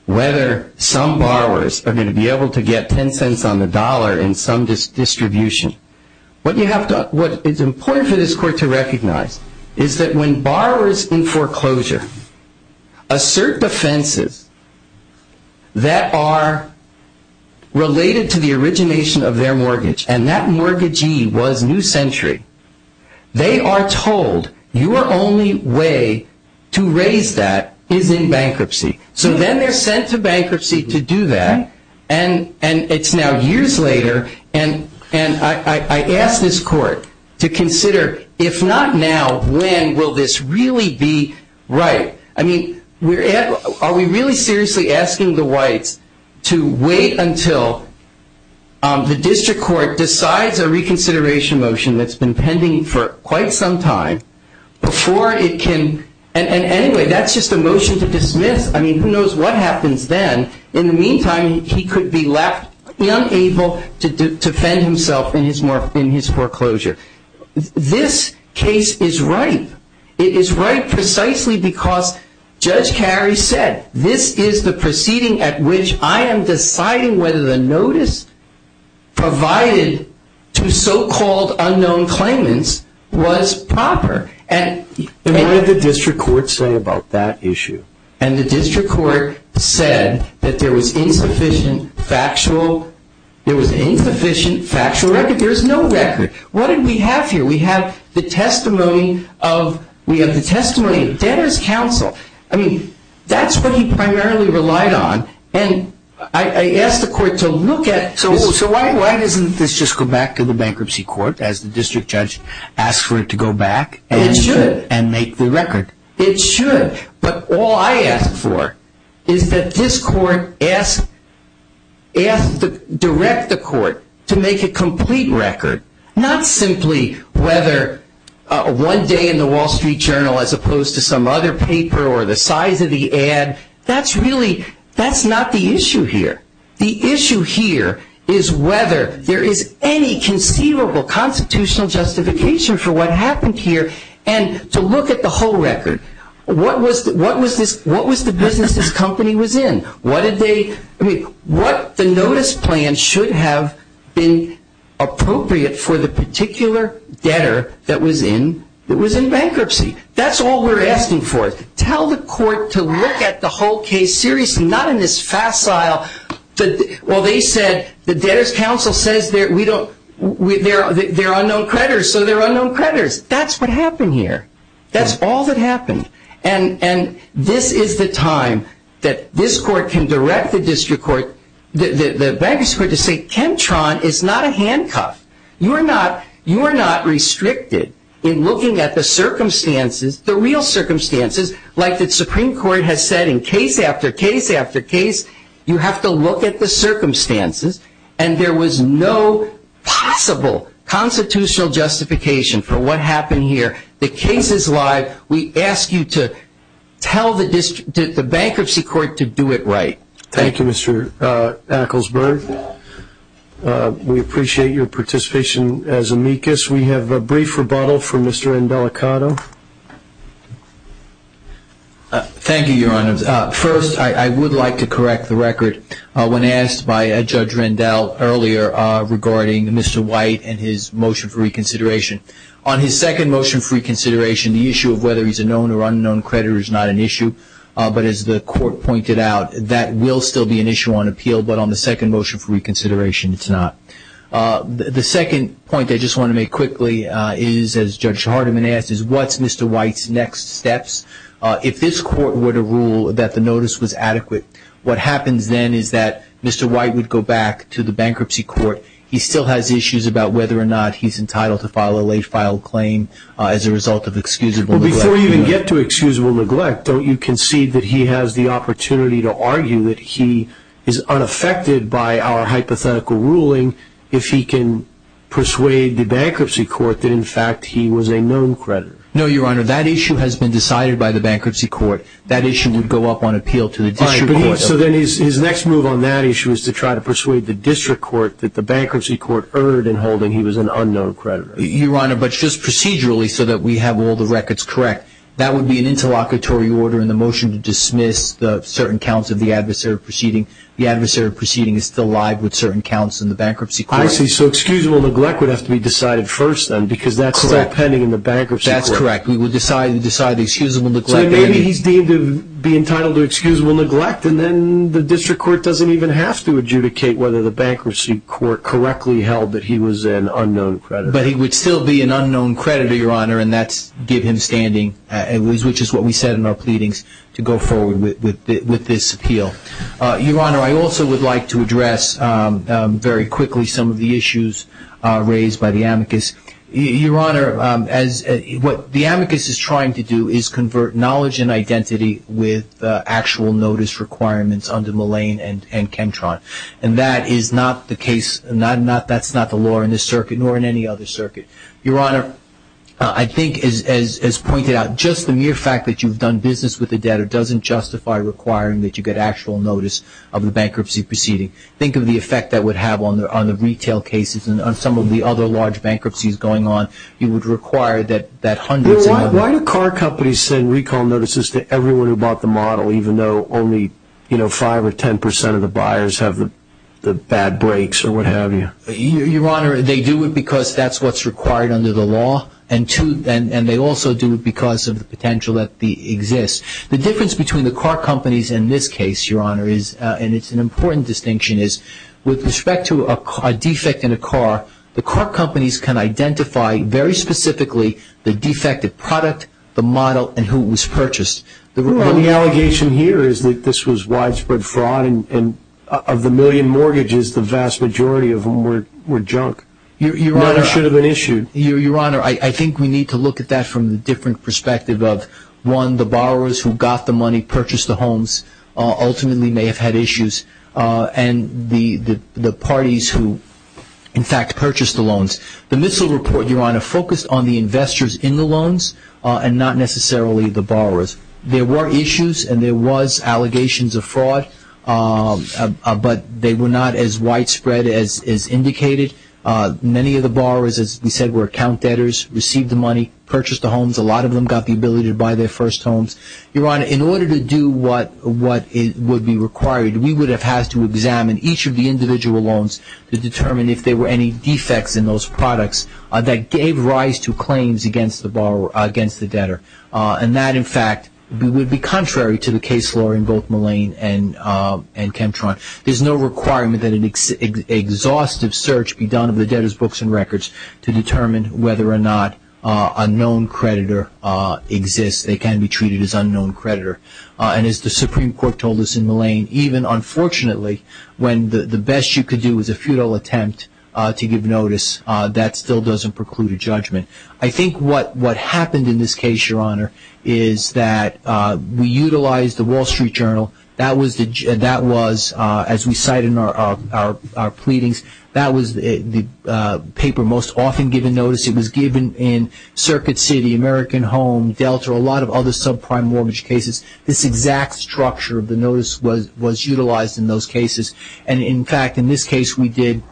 whether some borrowers are going to be able to get $0.10 on the dollar in some distribution. What is important for this court to recognize is that when borrowers in foreclosure assert defenses that are related to the origination of their mortgage, and that mortgagee was New Century, they are told your only way to raise that is in bankruptcy. So then they're sent to bankruptcy to do that, and it's now years later, and I ask this court to consider if not now, when will this really be right? I mean, are we really seriously asking the whites to wait until the district court decides a reconsideration motion that's been pending for quite some time before it can, and anyway, that's just a motion to dismiss. I mean, who knows what happens then. In the meantime, he could be left unable to defend himself in his foreclosure. This case is ripe. It is ripe precisely because Judge Carey said, this is the proceeding at which I am deciding whether the notice provided to so-called unknown claimants was proper. And what did the district court say about that issue? And the district court said that there was insufficient factual record. There is no record. What did we have here? We have the testimony of debtors' counsel. I mean, that's what he primarily relied on, and I asked the court to look at this. So why doesn't this just go back to the bankruptcy court as the district judge asked for it to go back and make the record? It should, but all I ask for is that this court ask to direct the court to make a complete record, not simply whether one day in the Wall Street Journal as opposed to some other paper or the size of the ad. That's really, that's not the issue here. The issue here is whether there is any conceivable constitutional justification for what happened here. And to look at the whole record, what was the business this company was in? I mean, what the notice plan should have been appropriate for the particular debtor that was in bankruptcy. That's all we're asking for. Tell the court to look at the whole case seriously, not in this facile. Well, they said the debtors' counsel says they're unknown creditors, so they're unknown creditors. That's what happened here. That's all that happened. And this is the time that this court can direct the district court, the bankruptcy court, to say, Kentron is not a handcuff. You are not restricted in looking at the circumstances, the real circumstances, like the Supreme Court has said in case after case after case, you have to look at the circumstances, and there was no possible constitutional justification for what happened here. The case is live. We ask you to tell the bankruptcy court to do it right. Thank you, Mr. Acklesberg. We appreciate your participation as amicus. We have a brief rebuttal from Mr. Rendell Acato. Thank you, Your Honor. First, I would like to correct the record when asked by Judge Rendell earlier regarding Mr. White and his motion for reconsideration. On his second motion for reconsideration, the issue of whether he's a known or unknown creditor is not an issue, but as the court pointed out, that will still be an issue on appeal, but on the second motion for reconsideration, it's not. The second point I just want to make quickly is, as Judge Hardiman asked, is what's Mr. White's next steps? If this court were to rule that the notice was adequate, what happens then is that Mr. White would go back to the bankruptcy court. He still has issues about whether or not he's entitled to file a late-filed claim as a result of excusable neglect. Before you even get to excusable neglect, don't you concede that he has the opportunity to argue that he is unaffected by our hypothetical ruling if he can persuade the bankruptcy court that, in fact, he was a known creditor? No, Your Honor. That issue has been decided by the bankruptcy court. That issue would go up on appeal to the district court. So then his next move on that issue is to try to persuade the district court that the bankruptcy court erred in holding he was an unknown creditor. Your Honor, but just procedurally, so that we have all the records correct, that would be an interlocutory order in the motion to dismiss certain counts of the adversarial proceeding. The adversarial proceeding is still live with certain counts in the bankruptcy court. I see. So excusable neglect would have to be decided first, then, because that's pending in the bankruptcy court. That's correct. We would decide the excusable neglect. So maybe he's deemed to be entitled to excusable neglect, and then the district court doesn't even have to adjudicate whether the bankruptcy court correctly held that he was an unknown creditor. But he would still be an unknown creditor, Your Honor, and that would give him standing, which is what we said in our pleadings to go forward with this appeal. Your Honor, I also would like to address very quickly some of the issues raised by the amicus. Your Honor, what the amicus is trying to do is convert knowledge and identity with actual notice requirements under Mullane and Kentron. And that is not the case, that's not the law in this circuit, nor in any other circuit. Your Honor, I think, as pointed out, just the mere fact that you've done business with the debtor doesn't justify requiring that you get actual notice of the bankruptcy proceeding. Think of the effect that would have on the retail cases and on some of the other large bankruptcies going on. You would require that hundreds of them. Well, why do car companies send recall notices to everyone who bought the model, even though only 5 or 10 percent of the buyers have the bad brakes or what have you? Your Honor, they do it because that's what's required under the law, and they also do it because of the potential that exists. The difference between the car companies in this case, Your Honor, and it's an important distinction, is with respect to a defect in a car, the car companies can identify very specifically the defective product, the model, and who it was purchased. Well, the allegation here is that this was widespread fraud, and of the million mortgages, the vast majority of them were junk. None should have been issued. Your Honor, I think we need to look at that from the different perspective of, one, the borrowers who got the money, purchased the homes, ultimately may have had issues, and the parties who, in fact, purchased the loans. The MISL report, Your Honor, focused on the investors in the loans and not necessarily the borrowers. There were issues and there was allegations of fraud, but they were not as widespread as indicated. Many of the borrowers, as we said, were account debtors, received the money, purchased the homes. A lot of them got the ability to buy their first homes. Your Honor, in order to do what would be required, we would have had to examine each of the individual loans to determine if there were any defects in those products that gave rise to claims against the debtor. And that, in fact, would be contrary to the case law in both Mullane and Chemtron. There's no requirement that an exhaustive search be done of the debtor's books and records to determine whether or not a known creditor exists. They can be treated as unknown creditor. And as the Supreme Court told us in Mullane, even, unfortunately, when the best you could do was a futile attempt to give notice, that still doesn't preclude a judgment. I think what happened in this case, Your Honor, is that we utilized the Wall Street Journal. That was, as we cite in our pleadings, that was the paper most often given notice. It was given in Circuit City, American Home, Delta, a lot of other subprime mortgage cases. This exact structure of the notice was utilized in those cases. And, in fact, in this case we did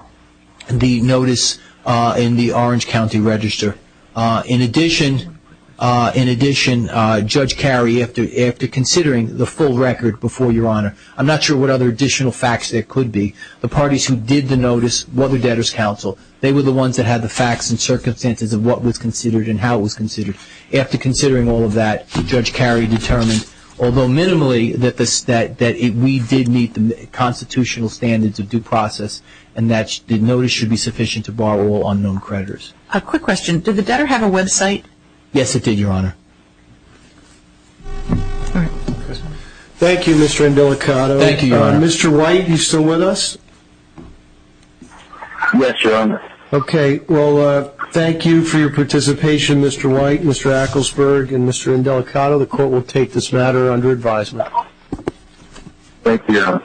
the notice in the Orange County Register. In addition, Judge Carey, after considering the full record before Your Honor, I'm not sure what other additional facts there could be. The parties who did the notice were the Debtors' Council. They were the ones that had the facts and circumstances of what was considered and how it was considered. After considering all of that, Judge Carey determined, although minimally, that we did meet the constitutional standards of due process and that the notice should be sufficient to bar all unknown creditors. A quick question. Did the debtor have a website? Yes, it did, Your Honor. Thank you, Mr. Indelicato. Thank you, Your Honor. Mr. White, are you still with us? Yes, Your Honor. Okay. Well, thank you for your participation, Mr. White, Mr. Acklesberg, and Mr. Indelicato. Thank you, Your Honor.